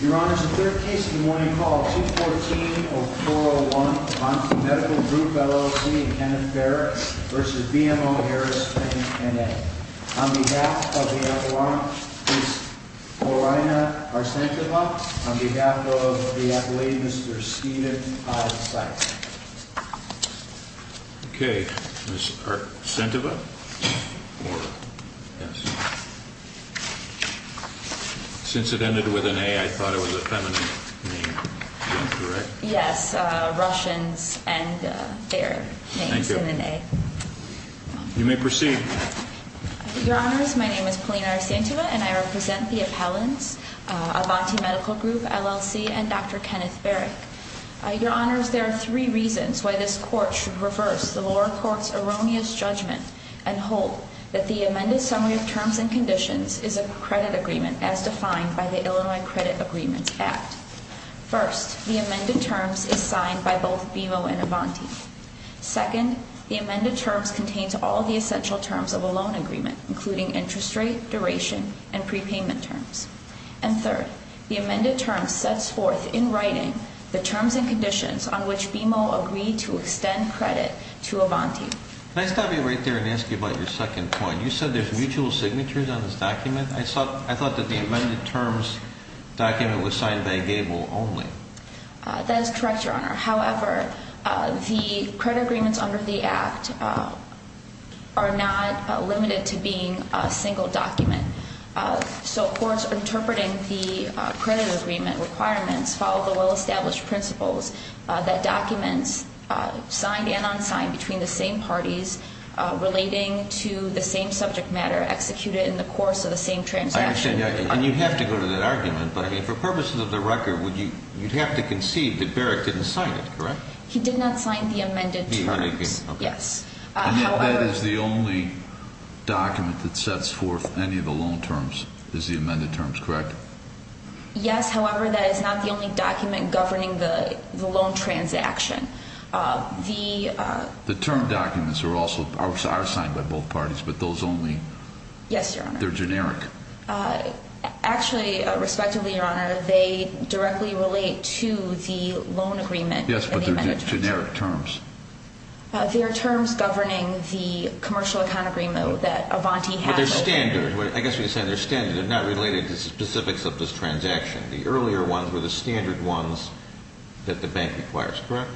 Your Honor, the third case of the morning, call 214-0401 on behalf of the Medical Group, LLC and Kenneth Barrett v. BMO Harris Bank, N.A. On behalf of the Appellant, Ms. Lorena Arcenteva. On behalf of the Appellate, Mr. Steven Hyde-Sykes. Okay, Ms. Arcenteva. Since it ended with an A, I thought it was a feminine name. Is that correct? Yes, Russians and their names in an A. You may proceed. Your Honors, my name is Paulina Arcenteva and I represent the Appellants, Avanti Medical Group, LLC and Dr. Kenneth Barrett. Your Honors, there are three reasons why this Court should reverse the lower court's erroneous judgment and hold that the amended summary of terms and conditions is a credit agreement as defined by the Illinois Credit Agreements Act. First, the amended terms is signed by both BMO and Avanti. Second, the amended terms contains all the essential terms of a loan agreement, including interest rate, duration, and prepayment terms. And third, the amended terms sets forth in writing the terms and conditions on which BMO agreed to extend credit to Avanti. Can I stop you right there and ask you about your second point? You said there's mutual signatures on this document? I thought that the amended terms document was signed by Gable only. That is correct, Your Honor. However, the credit agreements under the Act are not limited to being a single document. So courts interpreting the credit agreement requirements follow the well-established principles that documents signed and unsigned between the same parties relating to the same subject matter executed in the course of the same transaction. And you have to go to that argument, but for purposes of the record, you'd have to concede that Barrett didn't sign it, correct? He did not sign the amended terms, yes. And that is the only document that sets forth any of the loan terms, is the amended terms, correct? Yes, however, that is not the only document governing the loan transaction. The term documents are also signed by both parties, but those only? Yes, Your Honor. They're generic? Actually, respectively, Your Honor, they directly relate to the loan agreement. Yes, but they're generic terms. They're terms governing the commercial account agreement that Avanti has. But they're standard. I guess we could say they're standard. They're not related to specifics of this transaction. The earlier ones were the standard ones that the bank requires, correct?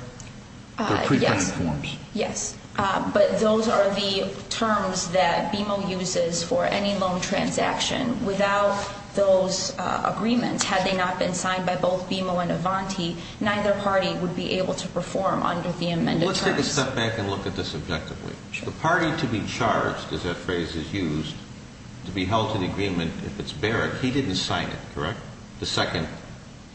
Yes. They're pre-printed forms. Yes, but those are the terms that BMO uses for any loan transaction. Without those agreements, had they not been signed by both BMO and Avanti, neither party would be able to perform under the amended terms. Let's take a step back and look at this objectively. Sure. The party to be charged, as that phrase is used, to be held to the agreement if it's Barrett, he didn't sign it, correct? The second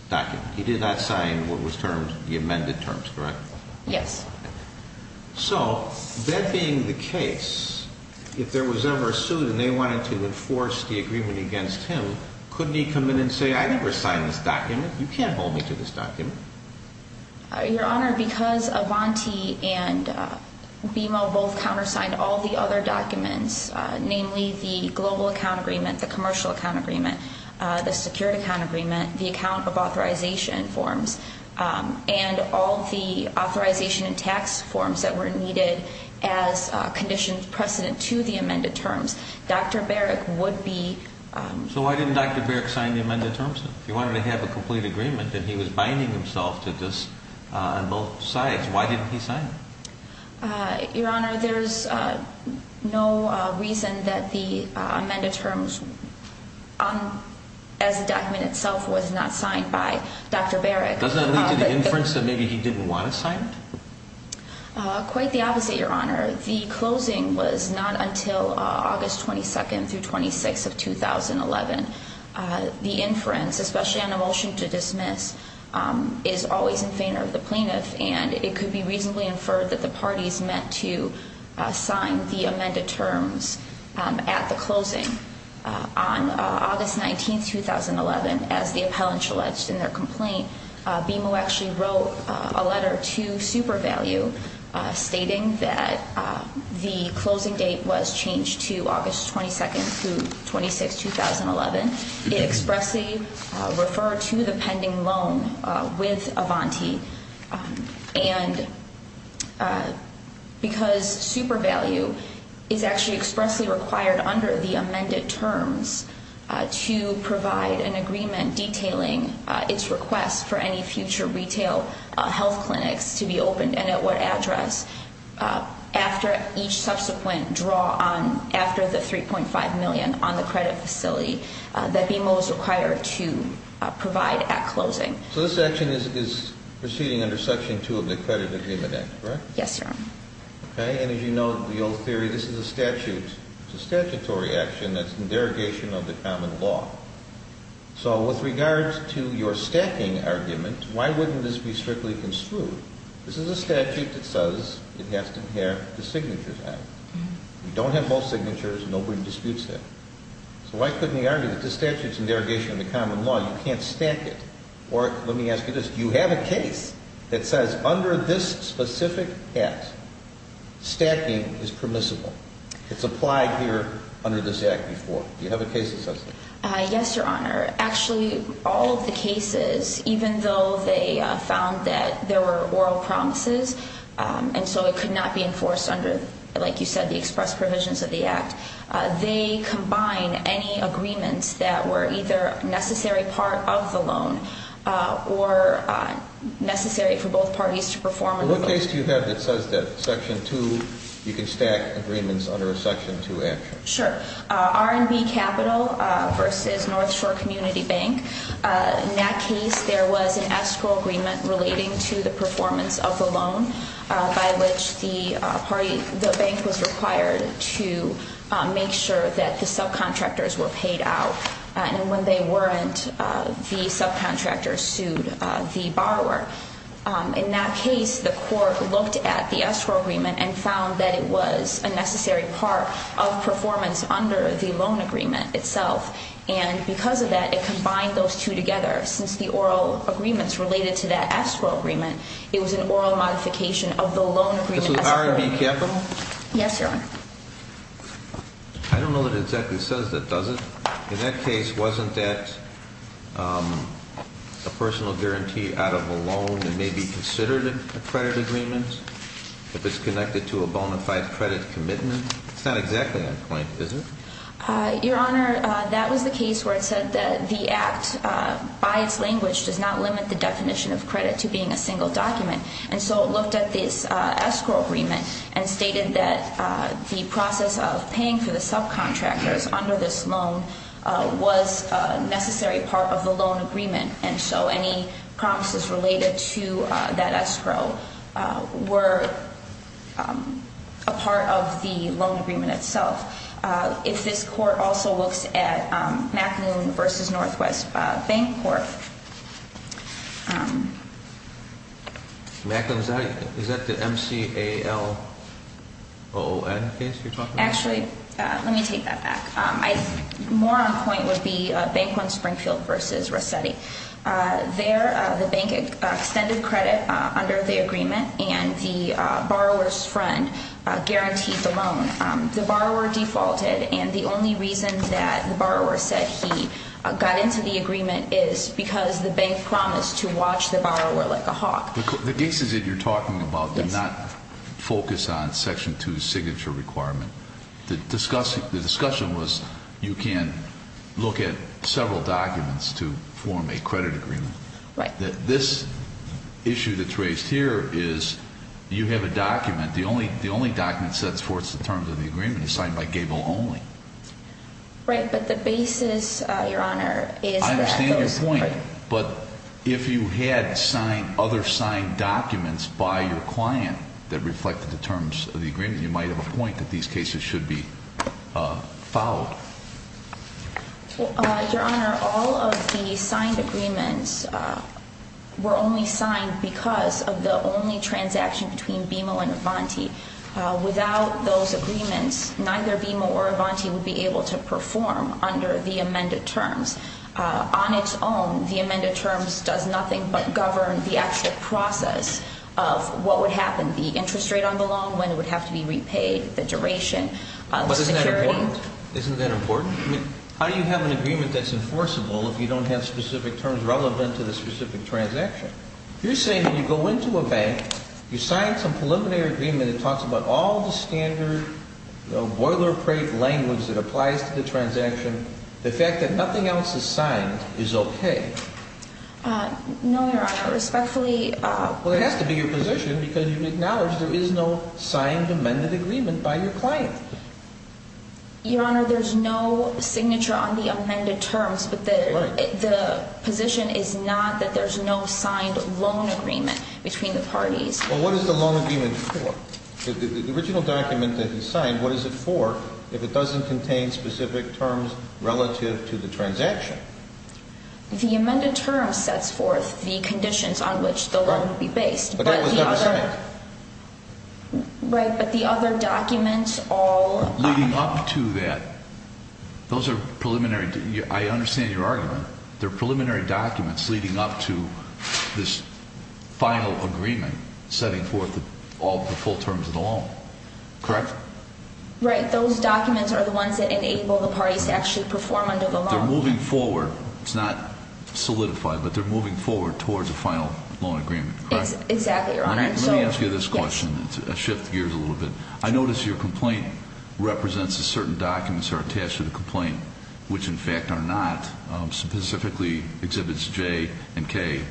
document. He did not sign what was termed the amended terms, correct? Yes. So, that being the case, if there was ever a suit and they wanted to enforce the agreement against him, couldn't he come in and say, I never signed this document. You can't hold me to this document. Your Honor, because Avanti and BMO both countersigned all the other documents, namely the global account agreement, the commercial account agreement, the security account agreement, the account of authorization forms, and all the authorization and tax forms that were needed as conditions precedent to the amended terms, Dr. Barrett would be... So, why didn't Dr. Barrett sign the amended terms? If he wanted to have a complete agreement and he was binding himself to this on both sides, why didn't he sign it? Your Honor, there's no reason that the amended terms, as the document itself, was not signed by Dr. Barrett. Does that lead to the inference that maybe he didn't want it signed? Quite the opposite, Your Honor. The closing was not until August 22nd through 26th of 2011. The inference, especially on a motion to dismiss, is always in favor of the plaintiff and it could be reasonably inferred that the parties meant to sign the amended terms at the closing. On August 19th, 2011, as the appellant alleged in their complaint, BMO actually wrote a letter to SuperValue stating that the closing date was changed to August 22nd through 26th, 2011. It expressly referred to the pending loan with Avanti and because SuperValue is actually expressly required under the amended terms to provide an agreement detailing its request for any future retail health clinics to be opened and at what address, after each subsequent draw on, after the $3.5 million on the credit facility that BMO is required to provide at closing. So this action is proceeding under Section 2 of the Credit Agreement Act, correct? Yes, Your Honor. Okay, and as you know, the old theory, this is a statute. It's a statutory action that's in derogation of the common law. So with regards to your stacking argument, why wouldn't this be strictly construed? This is a statute that says it has to inherit the signatures act. You don't have both signatures, nobody disputes that. So why couldn't he argue that this statute's in derogation of the common law, you can't stack it? Or let me ask you this, do you have a case that says under this specific act, stacking is permissible? It's applied here under this act before. Do you have a case that says that? Yes, Your Honor. Actually, all of the cases, even though they found that there were oral promises, and so it could not be enforced under, like you said, the express provisions of the act, they combine any agreements that were either a necessary part of the loan or necessary for both parties to perform. What case do you have that says that Section 2, you can stack agreements under a Section 2 action? Sure. R&B Capital versus North Shore Community Bank. In that case, there was an escrow agreement relating to the performance of the loan, by which the bank was required to make sure that the subcontractors were paid out. And when they weren't, the subcontractors sued the borrower. In that case, the court looked at the escrow agreement and found that it was a necessary part of performance under the loan agreement itself, and because of that, it combined those two together. Since the oral agreements related to that escrow agreement, it was an oral modification of the loan agreement. This was R&B Capital? Yes, Your Honor. I don't know that it exactly says that, does it? In that case, wasn't that a personal guarantee out of a loan that may be considered a credit agreement, if it's connected to a bona fide credit commitment? It's not exactly that point, is it? Your Honor, that was the case where it said that the act, by its language, does not limit the definition of credit to being a single document. And so it looked at this escrow agreement and stated that the process of paying for the subcontractors under this loan was a necessary part of the loan agreement, and so any promises related to that escrow were a part of the loan agreement itself. If this Court also looks at McLuhan v. Northwest Bank Corp. McLuhan, is that the M-C-A-L-O-N case you're talking about? Actually, let me take that back. More on point would be Bank One Springfield v. Rossetti. There, the bank extended credit under the agreement, and the borrower's friend guaranteed the loan. The borrower defaulted, and the only reason that the borrower said he got into the agreement is because the bank promised to watch the borrower like a hawk. The cases that you're talking about did not focus on Section 2's signature requirement. The discussion was you can look at several documents to form a credit agreement. This issue that's raised here is you have a document. The only document that supports the terms of the agreement is signed by Gable only. Right, but the basis, Your Honor, is that those... I understand your point, but if you had other signed documents by your client that reflected the terms of the agreement, you might have a point that these cases should be followed. Your Honor, all of the signed agreements were only signed because of the only transaction between BMO and Avanti. Without those agreements, neither BMO or Avanti would be able to perform under the amended terms. On its own, the amended terms does nothing but govern the actual process of what would happen. The interest rate on the loan would have to be repaid, the duration... But isn't that important? Isn't that important? I mean, how do you have an agreement that's enforceable if you don't have specific terms relevant to the specific transaction? You're saying when you go into a bank, you sign some preliminary agreement that talks about all the standard boilerplate language that applies to the transaction. The fact that nothing else is signed is okay. No, Your Honor. Respectfully... Well, it has to be your position because you acknowledge there is no signed amended agreement by your client. Your Honor, there's no signature on the amended terms, but the position is not that there's no signed loan agreement between the parties. Well, what is the loan agreement for? The original document that he signed, what is it for if it doesn't contain specific terms relative to the transaction? The amended term sets forth the conditions on which the loan would be based. But that was not signed. Right, but the other documents all... Leading up to that, those are preliminary... I understand your argument. They're preliminary documents leading up to this final agreement setting forth all the full terms of the loan. Correct? Right, those documents are the ones that enable the parties to actually perform under the law. They're moving forward. It's not solidified, but they're moving forward towards a final loan agreement. Correct? Exactly, Your Honor. Let me ask you this question to shift gears a little bit. I notice your complaint represents that certain documents are attached to the complaint, which in fact are not, specifically exhibits J and K,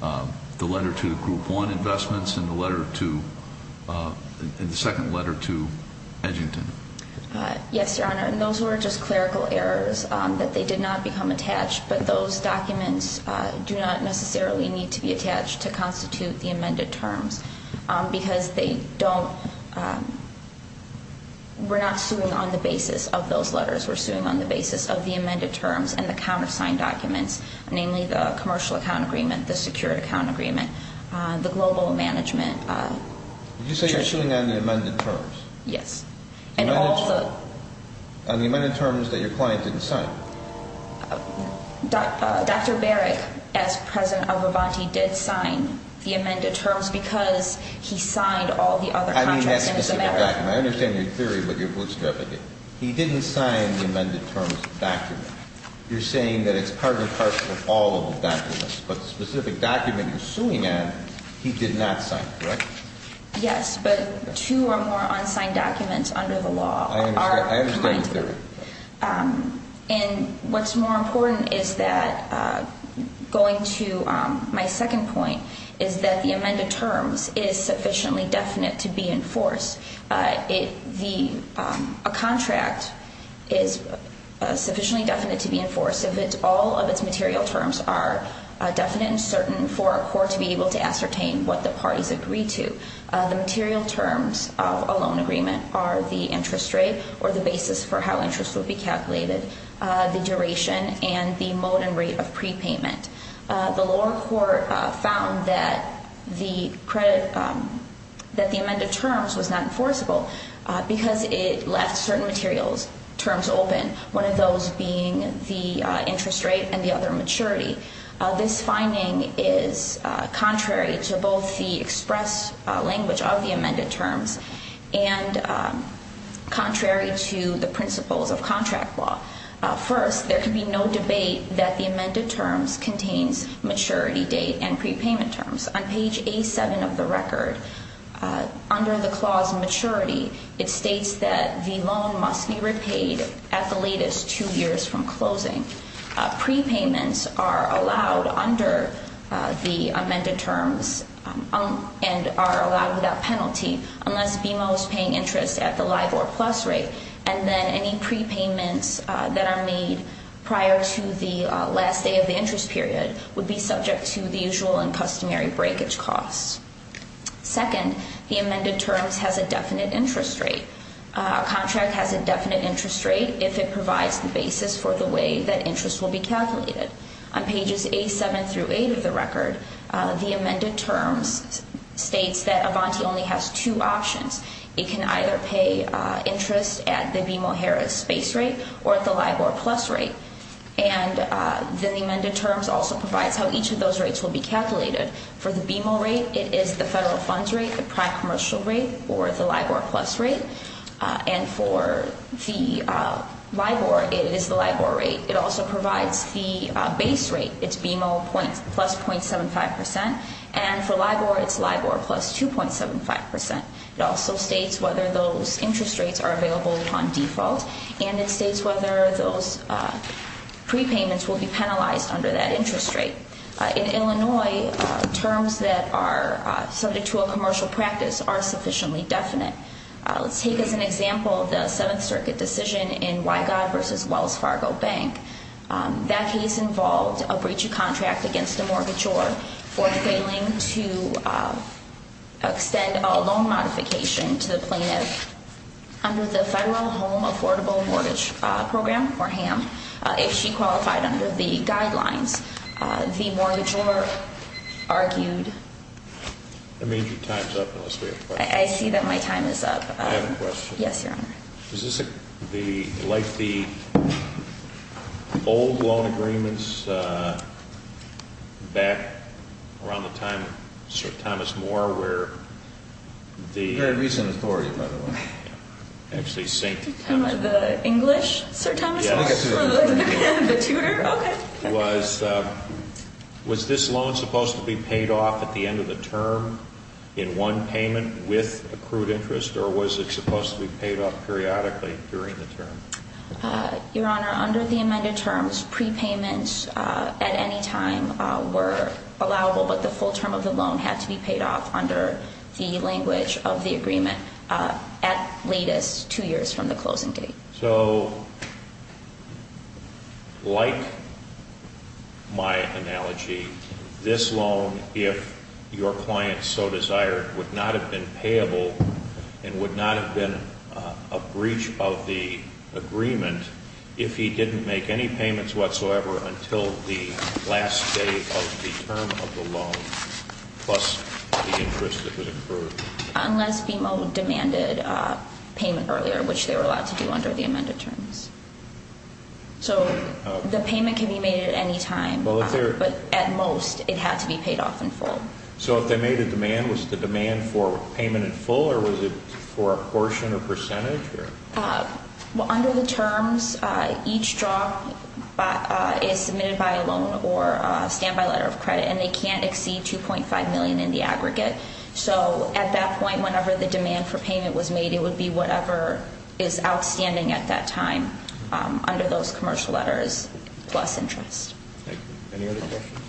the letter to Group 1 Investments and the second letter to Edgington. Yes, Your Honor, and those were just clerical errors that they did not become attached, but those documents do not necessarily need to be attached to constitute the amended terms because they don't... We're not suing on the basis of those letters. We're suing on the basis of the amended terms and the countersigned documents, namely the commercial account agreement, the secured account agreement, the global management... You say you're suing on the amended terms? Yes, and all the... On the amended terms that your client didn't sign? Dr. Barrick, as President of Avanti, did sign the amended terms because he signed all the other contracts in his amendment. I mean that specific document. I understand your theory, but you're bootstrapping me. He didn't sign the amended terms document. You're saying that it's part and parcel of all of the documents, but the specific document you're suing on, he did not sign. Correct? Yes, but two or more unsigned documents under the law are... I understand your theory. And what's more important is that going to my second point is that the amended terms is sufficiently definite to be enforced. A contract is sufficiently definite to be enforced if all of its material terms are definite and certain for a court to be able to ascertain what the parties agree to. The material terms of a loan agreement are the interest rate or the basis for how interest will be calculated, the duration, and the mode and rate of prepayment. The lower court found that the credit, that the amended terms was not enforceable because it left certain materials, terms open, one of those being the interest rate and the other maturity. This finding is contrary to both the express language of the amended terms and contrary to the principles of contract law. First, there can be no debate that the amended terms contains maturity date and prepayment terms. On page A7 of the record, under the clause maturity, it states that the loan must be repaid at the latest two years from closing. Prepayments are allowed under the amended terms and are allowed without penalty unless BMO is paying interest at the LIBOR plus rate and then any prepayments that are made prior to the last day of the interest period would be subject to the usual and customary breakage costs. Second, the amended terms has a definite interest rate. A contract has a definite interest rate if it provides the basis for the way that interest will be calculated. On pages A7 through 8 of the record, the amended terms states that Avanti only has two options. It can either pay interest at the BMO-Harris base rate or at the LIBOR plus rate. And then the amended terms also provides how each of those rates will be calculated. For the BMO rate, it is the federal funds rate, the prime commercial rate, or the LIBOR plus rate. And for the LIBOR, it is the LIBOR rate. It also provides the base rate. It's BMO plus .75 percent. And for LIBOR, it's LIBOR plus 2.75 percent. It also states whether those interest rates are available upon default and it states whether those prepayments will be penalized under that interest rate. In Illinois, terms that are subject to a commercial practice are sufficiently definite. Let's take as an example the Seventh Circuit decision in Wygod v. Wells Fargo Bank. That case involved a breach of contract against a mortgagor for failing to extend a loan modification to the plaintiff under the Federal Home Affordable Mortgage Program, or HAM, if she qualified under the guidelines. The mortgagor argued- I mean, your time's up unless we have questions. I see that my time is up. I have a question. Yes, Your Honor. Is this like the old loan agreements back around the time of Sir Thomas Moore where the- Very recent authority, by the way. Actually, St. Thomas- The English Sir Thomas Moore? Yes. The tutor? Okay. Was this loan supposed to be paid off at the end of the term in one payment with accrued interest or was it supposed to be paid off periodically during the term? Your Honor, under the amended terms, prepayments at any time were allowable, but the full term of the loan had to be paid off under the language of the agreement at latest two years from the closing date. So, like my analogy, this loan, if your client so desired, would not have been payable and would not have been a breach of the agreement if he didn't make any payments whatsoever until the last day of the term of the loan plus the interest that was accrued. Unless BMO demanded payment earlier, which they were allowed to do under the amended terms. So the payment can be made at any time, but at most it had to be paid off in full. So if they made a demand, was the demand for payment in full or was it for a portion or percentage? Well, under the terms, each drop is submitted by a loan or a standby letter of credit and they can't exceed $2.5 million in the aggregate. So at that point, whenever the demand for payment was made, it would be whatever is outstanding at that time under those commercial letters plus interest. Thank you. Any other questions?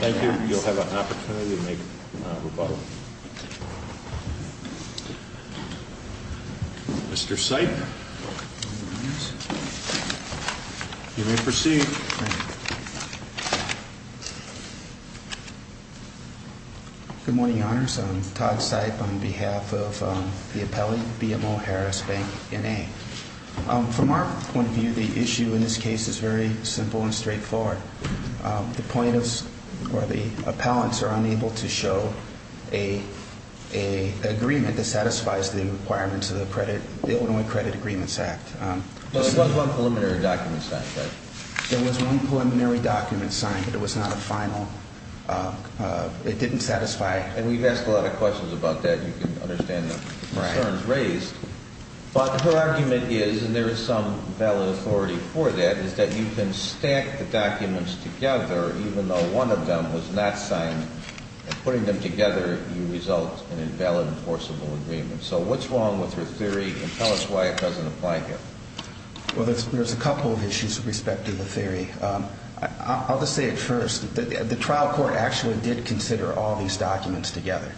Thank you, Your Honor. Thank you. You'll have an opportunity to make a rebuttal. Mr. Sipe, you may proceed. Thank you. Good morning, Your Honors. I'm Todd Sipe on behalf of the appellate BMO Harris Bank, N.A. From our point of view, the issue in this case is very simple and straightforward. The point is the appellants are unable to show an agreement that satisfies the requirements of the Illinois Credit Agreements Act. There was one preliminary document signed, right? There was one preliminary document signed, but it was not a final. It didn't satisfy. And we've asked a lot of questions about that. You can understand the concerns raised. But her argument is, and there is some valid authority for that, is that you can stack the documents together even though one of them was not signed, and putting them together, you result in an invalid enforceable agreement. So what's wrong with her theory, and tell us why it doesn't apply here. Well, there's a couple of issues with respect to the theory. I'll just say it first. The trial court actually did consider all these documents together,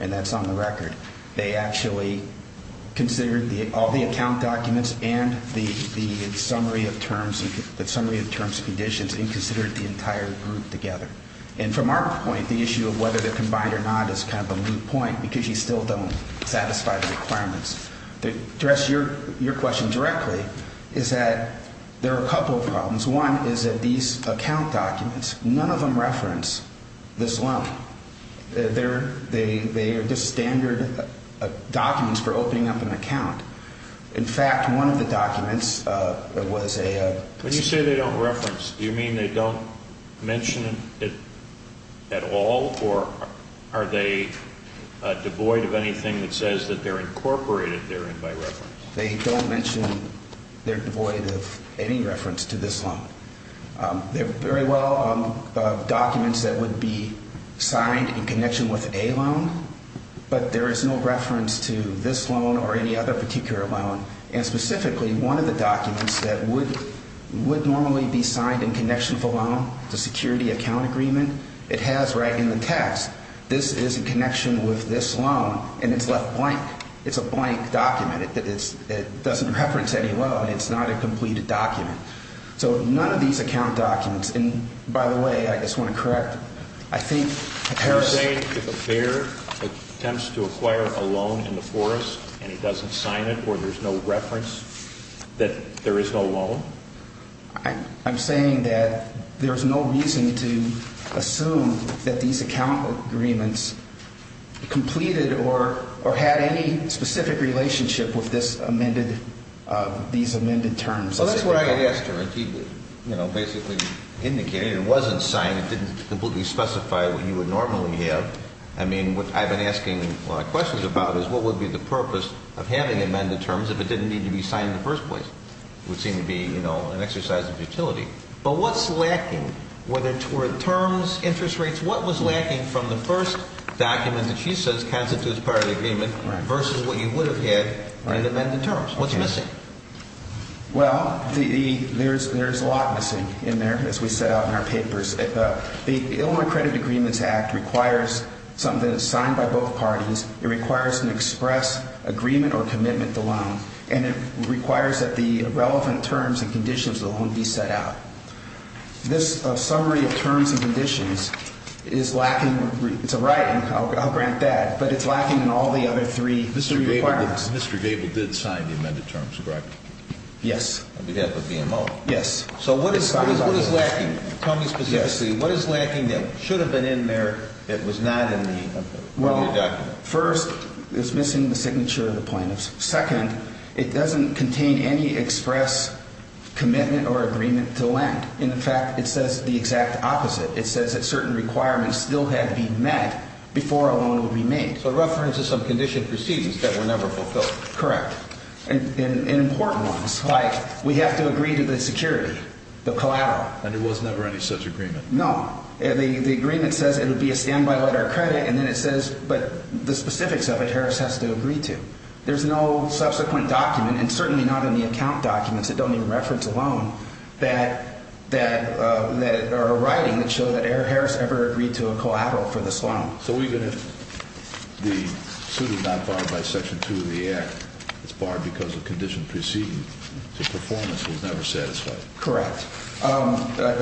and that's on the record. They actually considered all the account documents and the summary of terms and conditions and considered the entire group together. And from our point, the issue of whether they're combined or not is kind of a moot point because you still don't satisfy the requirements. To address your question directly is that there are a couple of problems. One is that these account documents, none of them reference this loan. They are just standard documents for opening up an account. In fact, one of the documents was a – When you say they don't reference, do you mean they don't mention it at all, or are they devoid of anything that says that they're incorporated therein by reference? They don't mention they're devoid of any reference to this loan. They're very well documents that would be signed in connection with a loan, but there is no reference to this loan or any other particular loan. And specifically, one of the documents that would normally be signed in connection with a loan, the security account agreement, it has right in the text, this is in connection with this loan, and it's left blank. It's a blank document. It doesn't reference any loan. It's not a completed document. So none of these account documents – and by the way, I just want to correct. I think Harris – You're saying if a bear attempts to acquire a loan in the forest and he doesn't sign it or there's no reference that there is no loan? I'm saying that there's no reason to assume that these account agreements completed or had any specific relationship with this amended – these amended terms. Well, that's what I had asked her. She basically indicated it wasn't signed. It didn't completely specify what you would normally have. I mean, what I've been asking questions about is what would be the purpose of having amended terms if it didn't need to be signed in the first place? It would seem to be, you know, an exercise of utility. But what's lacking? Were there terms, interest rates? What was lacking from the first document that she says constitutes part of the agreement versus what you would have had in the amended terms? What's missing? Well, there's a lot missing in there, as we set out in our papers. The Illinois Credit Agreements Act requires something that is signed by both parties. It requires an express agreement or commitment to loan, and it requires that the relevant terms and conditions of the loan be set out. This summary of terms and conditions is lacking. It's a writing. I'll grant that. But it's lacking in all the other three requirements. Mr. Gabel did sign the amended terms, correct? Yes. On behalf of BMO? Yes. So what is lacking? Tell me specifically, what is lacking that should have been in there that was not in your document? Well, first, it's missing the signature of the plaintiff. Second, it doesn't contain any express commitment or agreement to lend. In fact, it says the exact opposite. It says that certain requirements still had to be met before a loan would be made. So a reference to some condition of proceedings that were never fulfilled. Correct. And important ones, like we have to agree to the security, the collateral. And there was never any such agreement? No. The agreement says it would be a standby letter of credit, and then it says, but the specifics of it, Harris has to agree to. There's no subsequent document, and certainly not in the account documents that don't even reference a loan, that are writing that show that Harris ever agreed to a collateral for this loan. So even if the suit is not barred by Section 2 of the Act, it's barred because of condition of proceedings, so performance was never satisfied. Correct. That's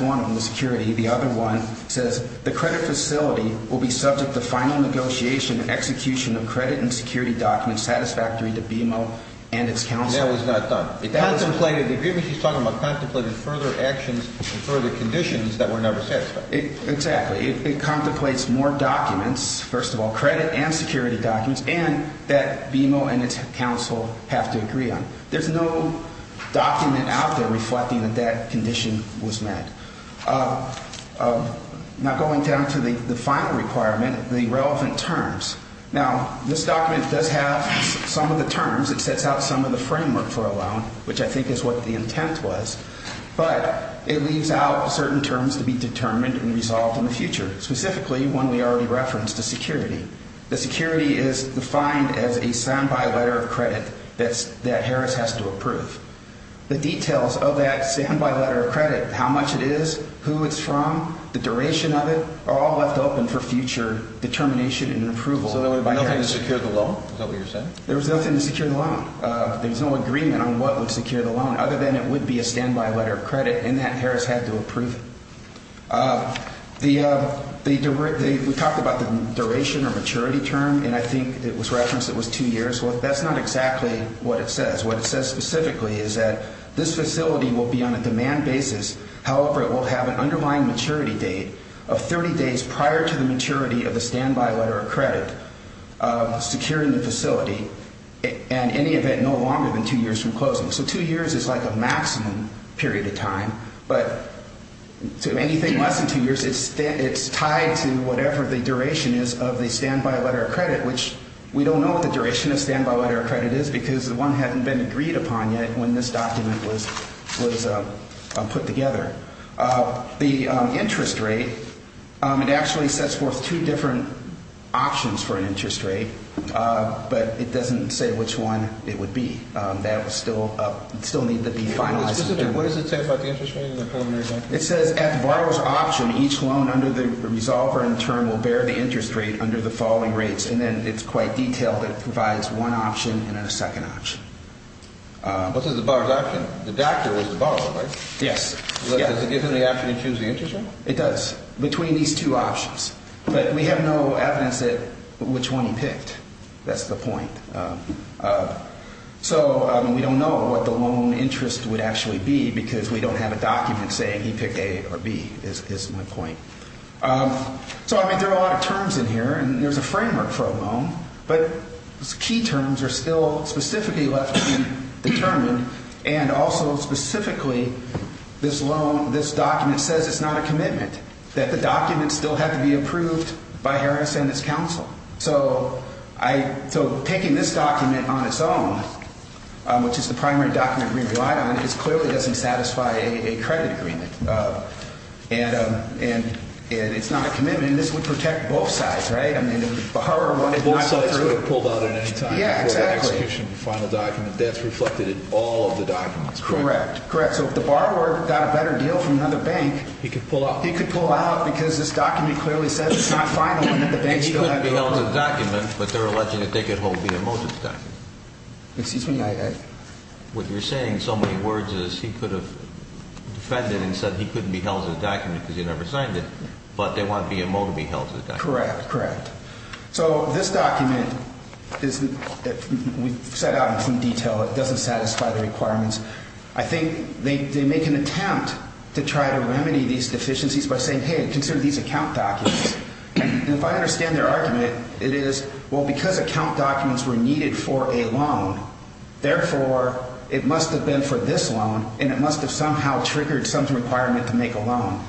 one of them, the security. The other one says the credit facility will be subject to final negotiation and execution of credit and security documents satisfactory to BMO and its counsel. That was not done. The agreement is talking about contemplating further actions and further conditions that were never satisfied. Exactly. It contemplates more documents, first of all, credit and security documents, and that BMO and its counsel have to agree on. There's no document out there reflecting that that condition was met. Now, going down to the final requirement, the relevant terms. Now, this document does have some of the terms. It sets out some of the framework for a loan, which I think is what the intent was, but it leaves out certain terms to be determined and resolved in the future, specifically one we already referenced, the security. The security is defined as a standby letter of credit that Harris has to approve. The details of that standby letter of credit, how much it is, who it's from, the duration of it, are all left open for future determination and approval. So there would be nothing to secure the loan? Is that what you're saying? There was nothing to secure the loan. There's no agreement on what would secure the loan other than it would be a standby letter of credit and that Harris had to approve. We talked about the duration or maturity term, and I think it was referenced it was two years. Well, that's not exactly what it says. What it says specifically is that this facility will be on a demand basis. However, it will have an underlying maturity date of 30 days prior to the maturity of the standby letter of credit secured in the facility, in any event, no longer than two years from closing. So two years is like a maximum period of time. But to anything less than two years, it's tied to whatever the duration is of the standby letter of credit, which we don't know what the duration of standby letter of credit is because the one hadn't been agreed upon yet when this document was put together. The interest rate, it actually sets forth two different options for an interest rate, but it doesn't say which one it would be. That would still need to be finalized. What does it say about the interest rate in the preliminary document? It says at the borrower's option, each loan under the resolver in turn will bear the interest rate under the following rates, and then it's quite detailed. It provides one option and then a second option. What's in the borrower's option? The doctor was the borrower, right? Yes. Does it give him the option to choose the interest rate? It does between these two options, but we have no evidence that which one he picked. That's the point. So we don't know what the loan interest would actually be because we don't have a document saying he picked A or B is my point. So, I mean, there are a lot of terms in here, and there's a framework for a loan, but key terms are still specifically left undetermined, and also specifically this loan, this document says it's not a commitment, that the document still had to be approved by Harris and its counsel. So taking this document on its own, which is the primary document we relied on, it clearly doesn't satisfy a credit agreement, and it's not a commitment, and this would protect both sides, right? Both sides would have pulled out at any time before the execution of the final document. That's reflected in all of the documents, correct? Correct. So if the borrower got a better deal from another bank, he could pull out because this document clearly says it's not final and that the bank still had to approve it. This could be held as a document, but they're alleging that they could hold BMO as a document. Excuse me? What you're saying in so many words is he could have defended and said he couldn't be held as a document because he never signed it, but they want BMO to be held as a document. Correct, correct. So this document is that we set out in some detail. It doesn't satisfy the requirements. I think they make an attempt to try to remedy these deficiencies by saying, hey, consider these account documents, and if I understand their argument, it is, well, because account documents were needed for a loan, therefore it must have been for this loan and it must have somehow triggered some requirement to make a loan.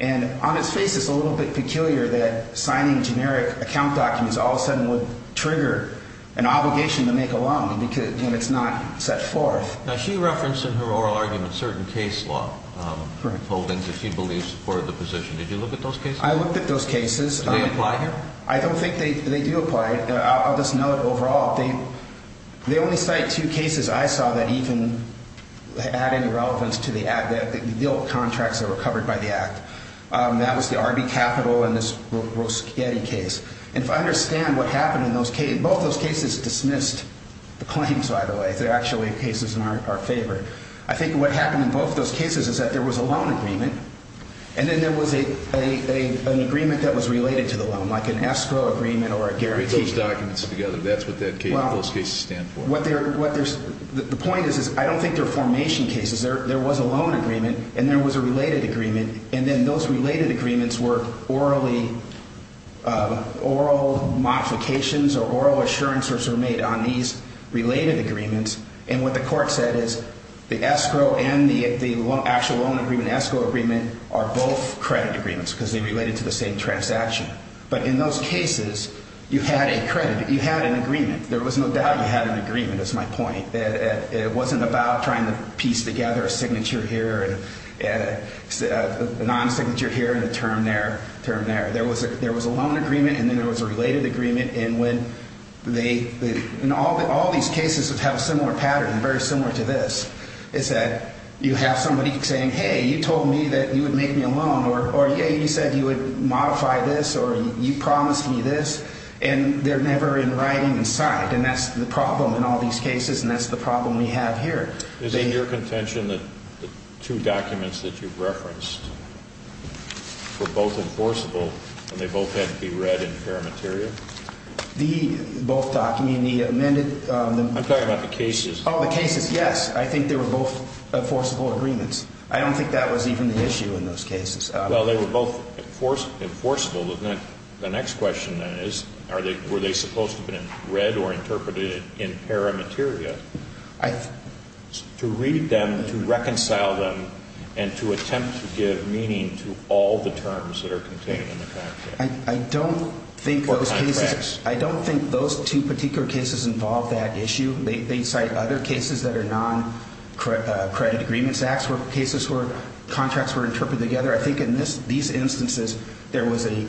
And on its face, it's a little bit peculiar that signing generic account documents all of a sudden would trigger an obligation to make a loan when it's not set forth. Now, she referenced in her oral argument certain case law holdings that she believes supported the position. Did you look at those cases? I looked at those cases. Do they apply here? I don't think they do apply. I'll just note overall they only cite two cases I saw that even had any relevance to the deal of contracts that were covered by the Act. That was the Arby Capital and this Roschetti case. And if I understand what happened in those cases, both those cases dismissed the claims, by the way. They're actually cases in our favor. I think what happened in both those cases is that there was a loan agreement and then there was an agreement that was related to the loan, like an escrow agreement or a guarantee. Put those documents together. That's what those cases stand for. The point is I don't think they're formation cases. There was a loan agreement and there was a related agreement, and then those related agreements were oral modifications or oral assurances were made on these related agreements. And what the court said is the escrow and the actual loan agreement, escrow agreement, are both credit agreements because they related to the same transaction. But in those cases, you had a credit. You had an agreement. There was no doubt you had an agreement, is my point. It wasn't about trying to piece together a signature here and a non-signature here and a term there. There was a loan agreement and then there was a related agreement. All these cases have a similar pattern, very similar to this, is that you have somebody saying, hey, you told me that you would make me a loan, or, yeah, you said you would modify this, or you promised me this, and they're never in writing and signed, and that's the problem in all these cases, and that's the problem we have here. Is it your contention that the two documents that you've referenced were both enforceable and they both had to be read in paramateria? The both document, the amended? I'm talking about the cases. Oh, the cases, yes. I think they were both enforceable agreements. I don't think that was even the issue in those cases. Well, they were both enforceable. The next question, then, is were they supposed to have been read or interpreted in paramateria? To read them, to reconcile them, and to attempt to give meaning to all the terms that are contained in the contract. I don't think those cases, I don't think those two particular cases involve that issue. They cite other cases that are non-credit agreements, cases where contracts were interpreted together. I think in these instances, there was a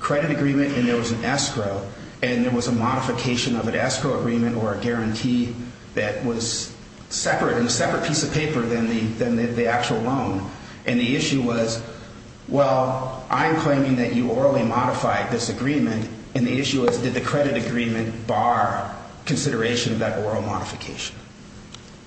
credit agreement and there was an escrow, and there was a modification of an escrow agreement or a guarantee that was separate, in a separate piece of paper than the actual loan. And the issue was, well, I'm claiming that you orally modified this agreement, and the issue is did the credit agreement bar consideration of that oral modification?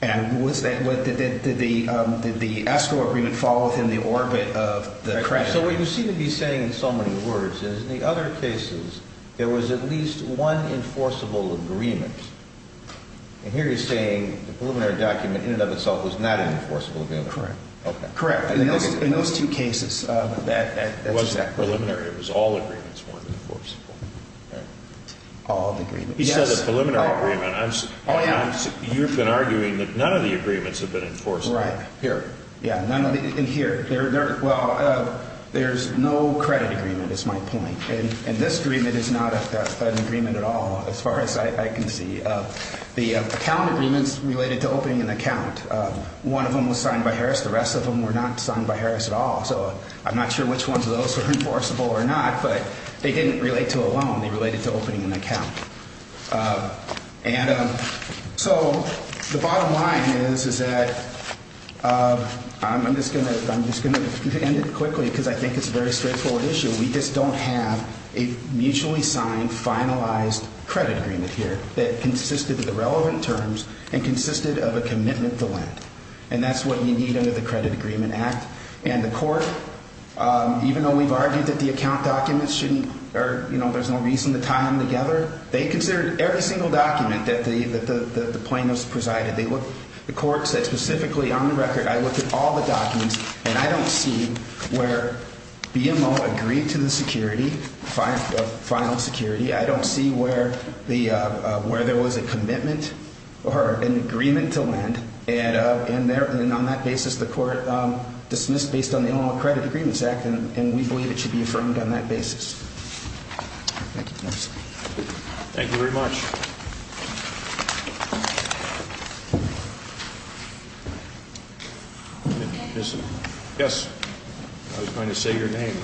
And did the escrow agreement fall within the orbit of the credit? So what you seem to be saying in so many words is in the other cases, there was at least one enforceable agreement. And here you're saying the preliminary document in and of itself was not an enforceable agreement. Correct. Correct. In those two cases. It wasn't preliminary. It was all agreements weren't enforceable. All of the agreements. He said the preliminary agreement. You've been arguing that none of the agreements have been enforceable. Right. Here. Yeah. In here. Well, there's no credit agreement is my point. And this agreement is not an agreement at all as far as I can see. The account agreements related to opening an account, one of them was signed by Harris. The rest of them were not signed by Harris at all. So I'm not sure which ones of those were enforceable or not, but they didn't relate to a loan. They related to opening an account. And so the bottom line is, is that I'm just going to end it quickly because I think it's a very straightforward issue. We just don't have a mutually signed, finalized credit agreement here that consisted of the relevant terms and consisted of a commitment to lend. And that's what you need under the Credit Agreement Act. And the court, even though we've argued that the account documents shouldn't or there's no reason to tie them together, they considered every single document that the plaintiffs presided. The court said specifically on the record, I looked at all the documents and I don't see where BMO agreed to the security, final security. I don't see where there was a commitment or an agreement to lend. And on that basis, the court dismissed based on the Illinois Credit Agreement Act. And we believe it should be affirmed on that basis. Thank you. Thank you very much. Yes. I was going to say your name.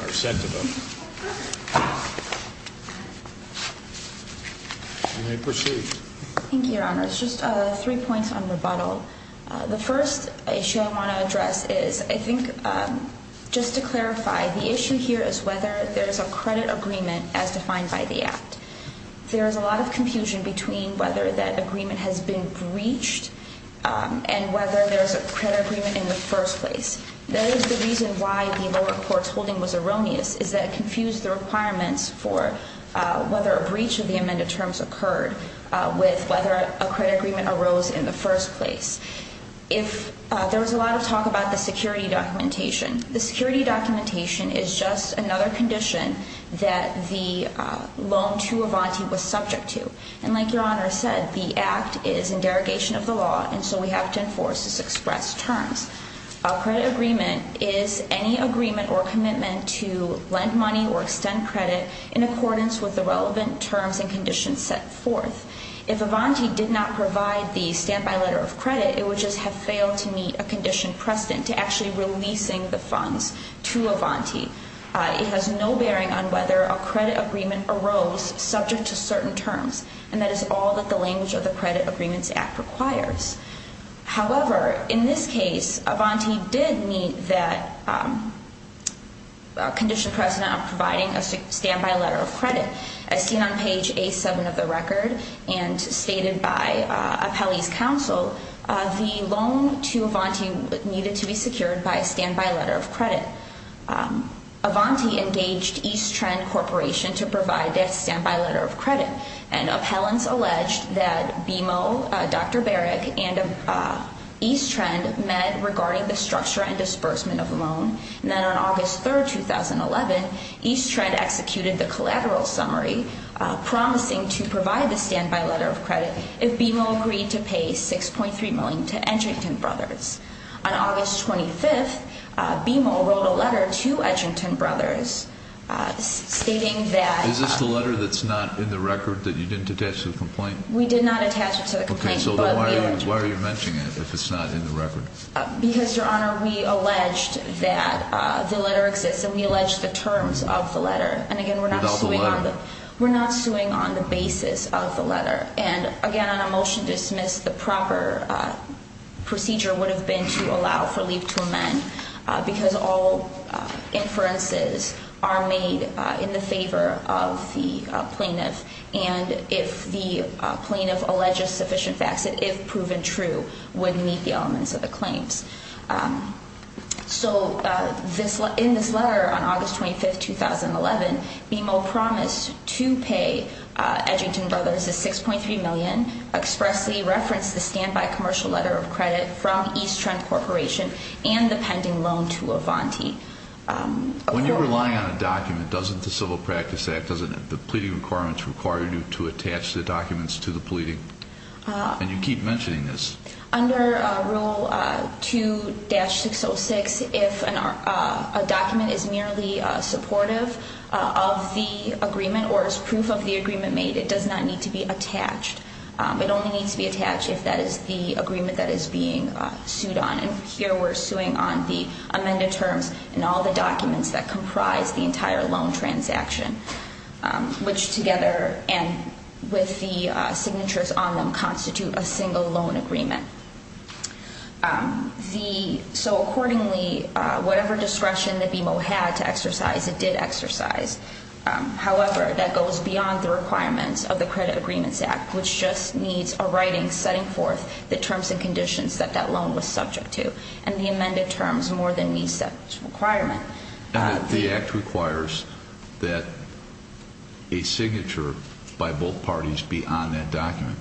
You may proceed. Thank you, Your Honor. It's just three points on rebuttal. The first issue I want to address is I think just to clarify, the issue here is whether there's a credit agreement as defined by the act. There is a lot of confusion between whether that agreement has been breached and whether there's a credit agreement in the first place. That is the reason why the lower court's holding was erroneous, is that it confused the requirements for whether a breach of the amended terms occurred with whether a credit agreement arose in the first place. There was a lot of talk about the security documentation. The security documentation is just another condition that the loan to Avanti was subject to. And like Your Honor said, the act is in derogation of the law and so we have to enforce its expressed terms. A credit agreement is any agreement or commitment to lend money or extend credit in accordance with the relevant terms and conditions set forth. If Avanti did not provide the standby letter of credit, it would just have failed to meet a condition precedent to actually releasing the funds to Avanti. It has no bearing on whether a credit agreement arose subject to certain terms, and that is all that the language of the Credit Agreements Act requires. However, in this case, Avanti did meet that condition precedent of providing a standby letter of credit. As seen on page A7 of the record and stated by Appellee's Counsel, the loan to Avanti needed to be secured by a standby letter of credit. Avanti engaged East Trend Corporation to provide that standby letter of credit. And appellants alleged that BMO, Dr. Barrick, and East Trend met regarding the structure and disbursement of the loan. And then on August 3, 2011, East Trend executed the collateral summary promising to provide the standby letter of credit if BMO agreed to pay $6.3 million to Edgington Brothers. On August 25, BMO wrote a letter to Edgington Brothers stating that... Is this the letter that's not in the record that you didn't attach to the complaint? We did not attach it to the complaint. Okay, so why are you mentioning it if it's not in the record? Because, Your Honor, we alleged that the letter exists, and we alleged the terms of the letter. And again, we're not suing on the basis of the letter. And again, on a motion to dismiss, the proper procedure would have been to allow for leave to amend because all inferences are made in the favor of the plaintiff. And if the plaintiff alleges sufficient facts, it, if proven true, would meet the elements of the claims. So in this letter on August 25, 2011, BMO promised to pay Edgington Brothers the $6.3 million, expressly referenced the standby commercial letter of credit from East Trend Corporation, and the pending loan to Avanti. When you rely on a document, doesn't the Civil Practice Act, doesn't the pleading requirements require you to attach the documents to the pleading? And you keep mentioning this. Under Rule 2-606, if a document is merely supportive of the agreement or is proof of the agreement made, it does not need to be attached. It only needs to be attached if that is the agreement that is being sued on. And here we're suing on the amended terms and all the documents that comprise the entire loan transaction, which together, and with the signatures on them, constitute a single loan agreement. The, so accordingly, whatever discretion that BMO had to exercise, it did exercise. However, that goes beyond the requirements of the Credit Agreements Act, which just needs a writing setting forth the terms and conditions that that loan was subject to. And the amended terms more than meets that requirement. The Act requires that a signature by both parties be on that document.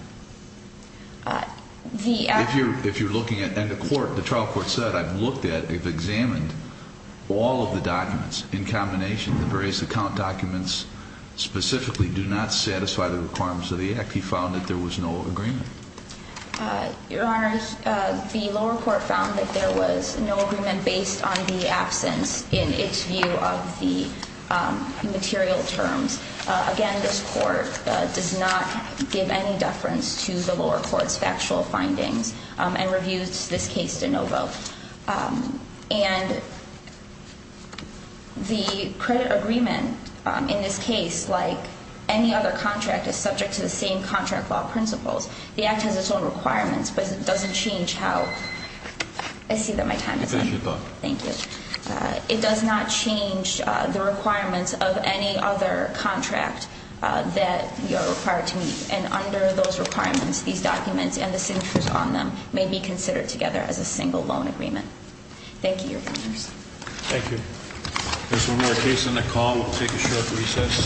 If you're looking at, and the court, the trial court said, I've looked at, I've examined all of the documents in combination. The various account documents specifically do not satisfy the requirements of the Act. He found that there was no agreement. Your Honor, the lower court found that there was no agreement based on the absence in its view of the material terms. Again, this court does not give any deference to the lower court's factual findings and reviews this case de novo. And the credit agreement in this case, like any other contract, is subject to the same contract law principles. The Act has its own requirements, but it doesn't change how, I see that my time is up. It is your time. Thank you. It does not change the requirements of any other contract that you are required to meet. And under those requirements, these documents and the signatures on them may be considered together as a single loan agreement. Thank you, Your Honors. Thank you. There's one more case on the call. We'll take a short recess.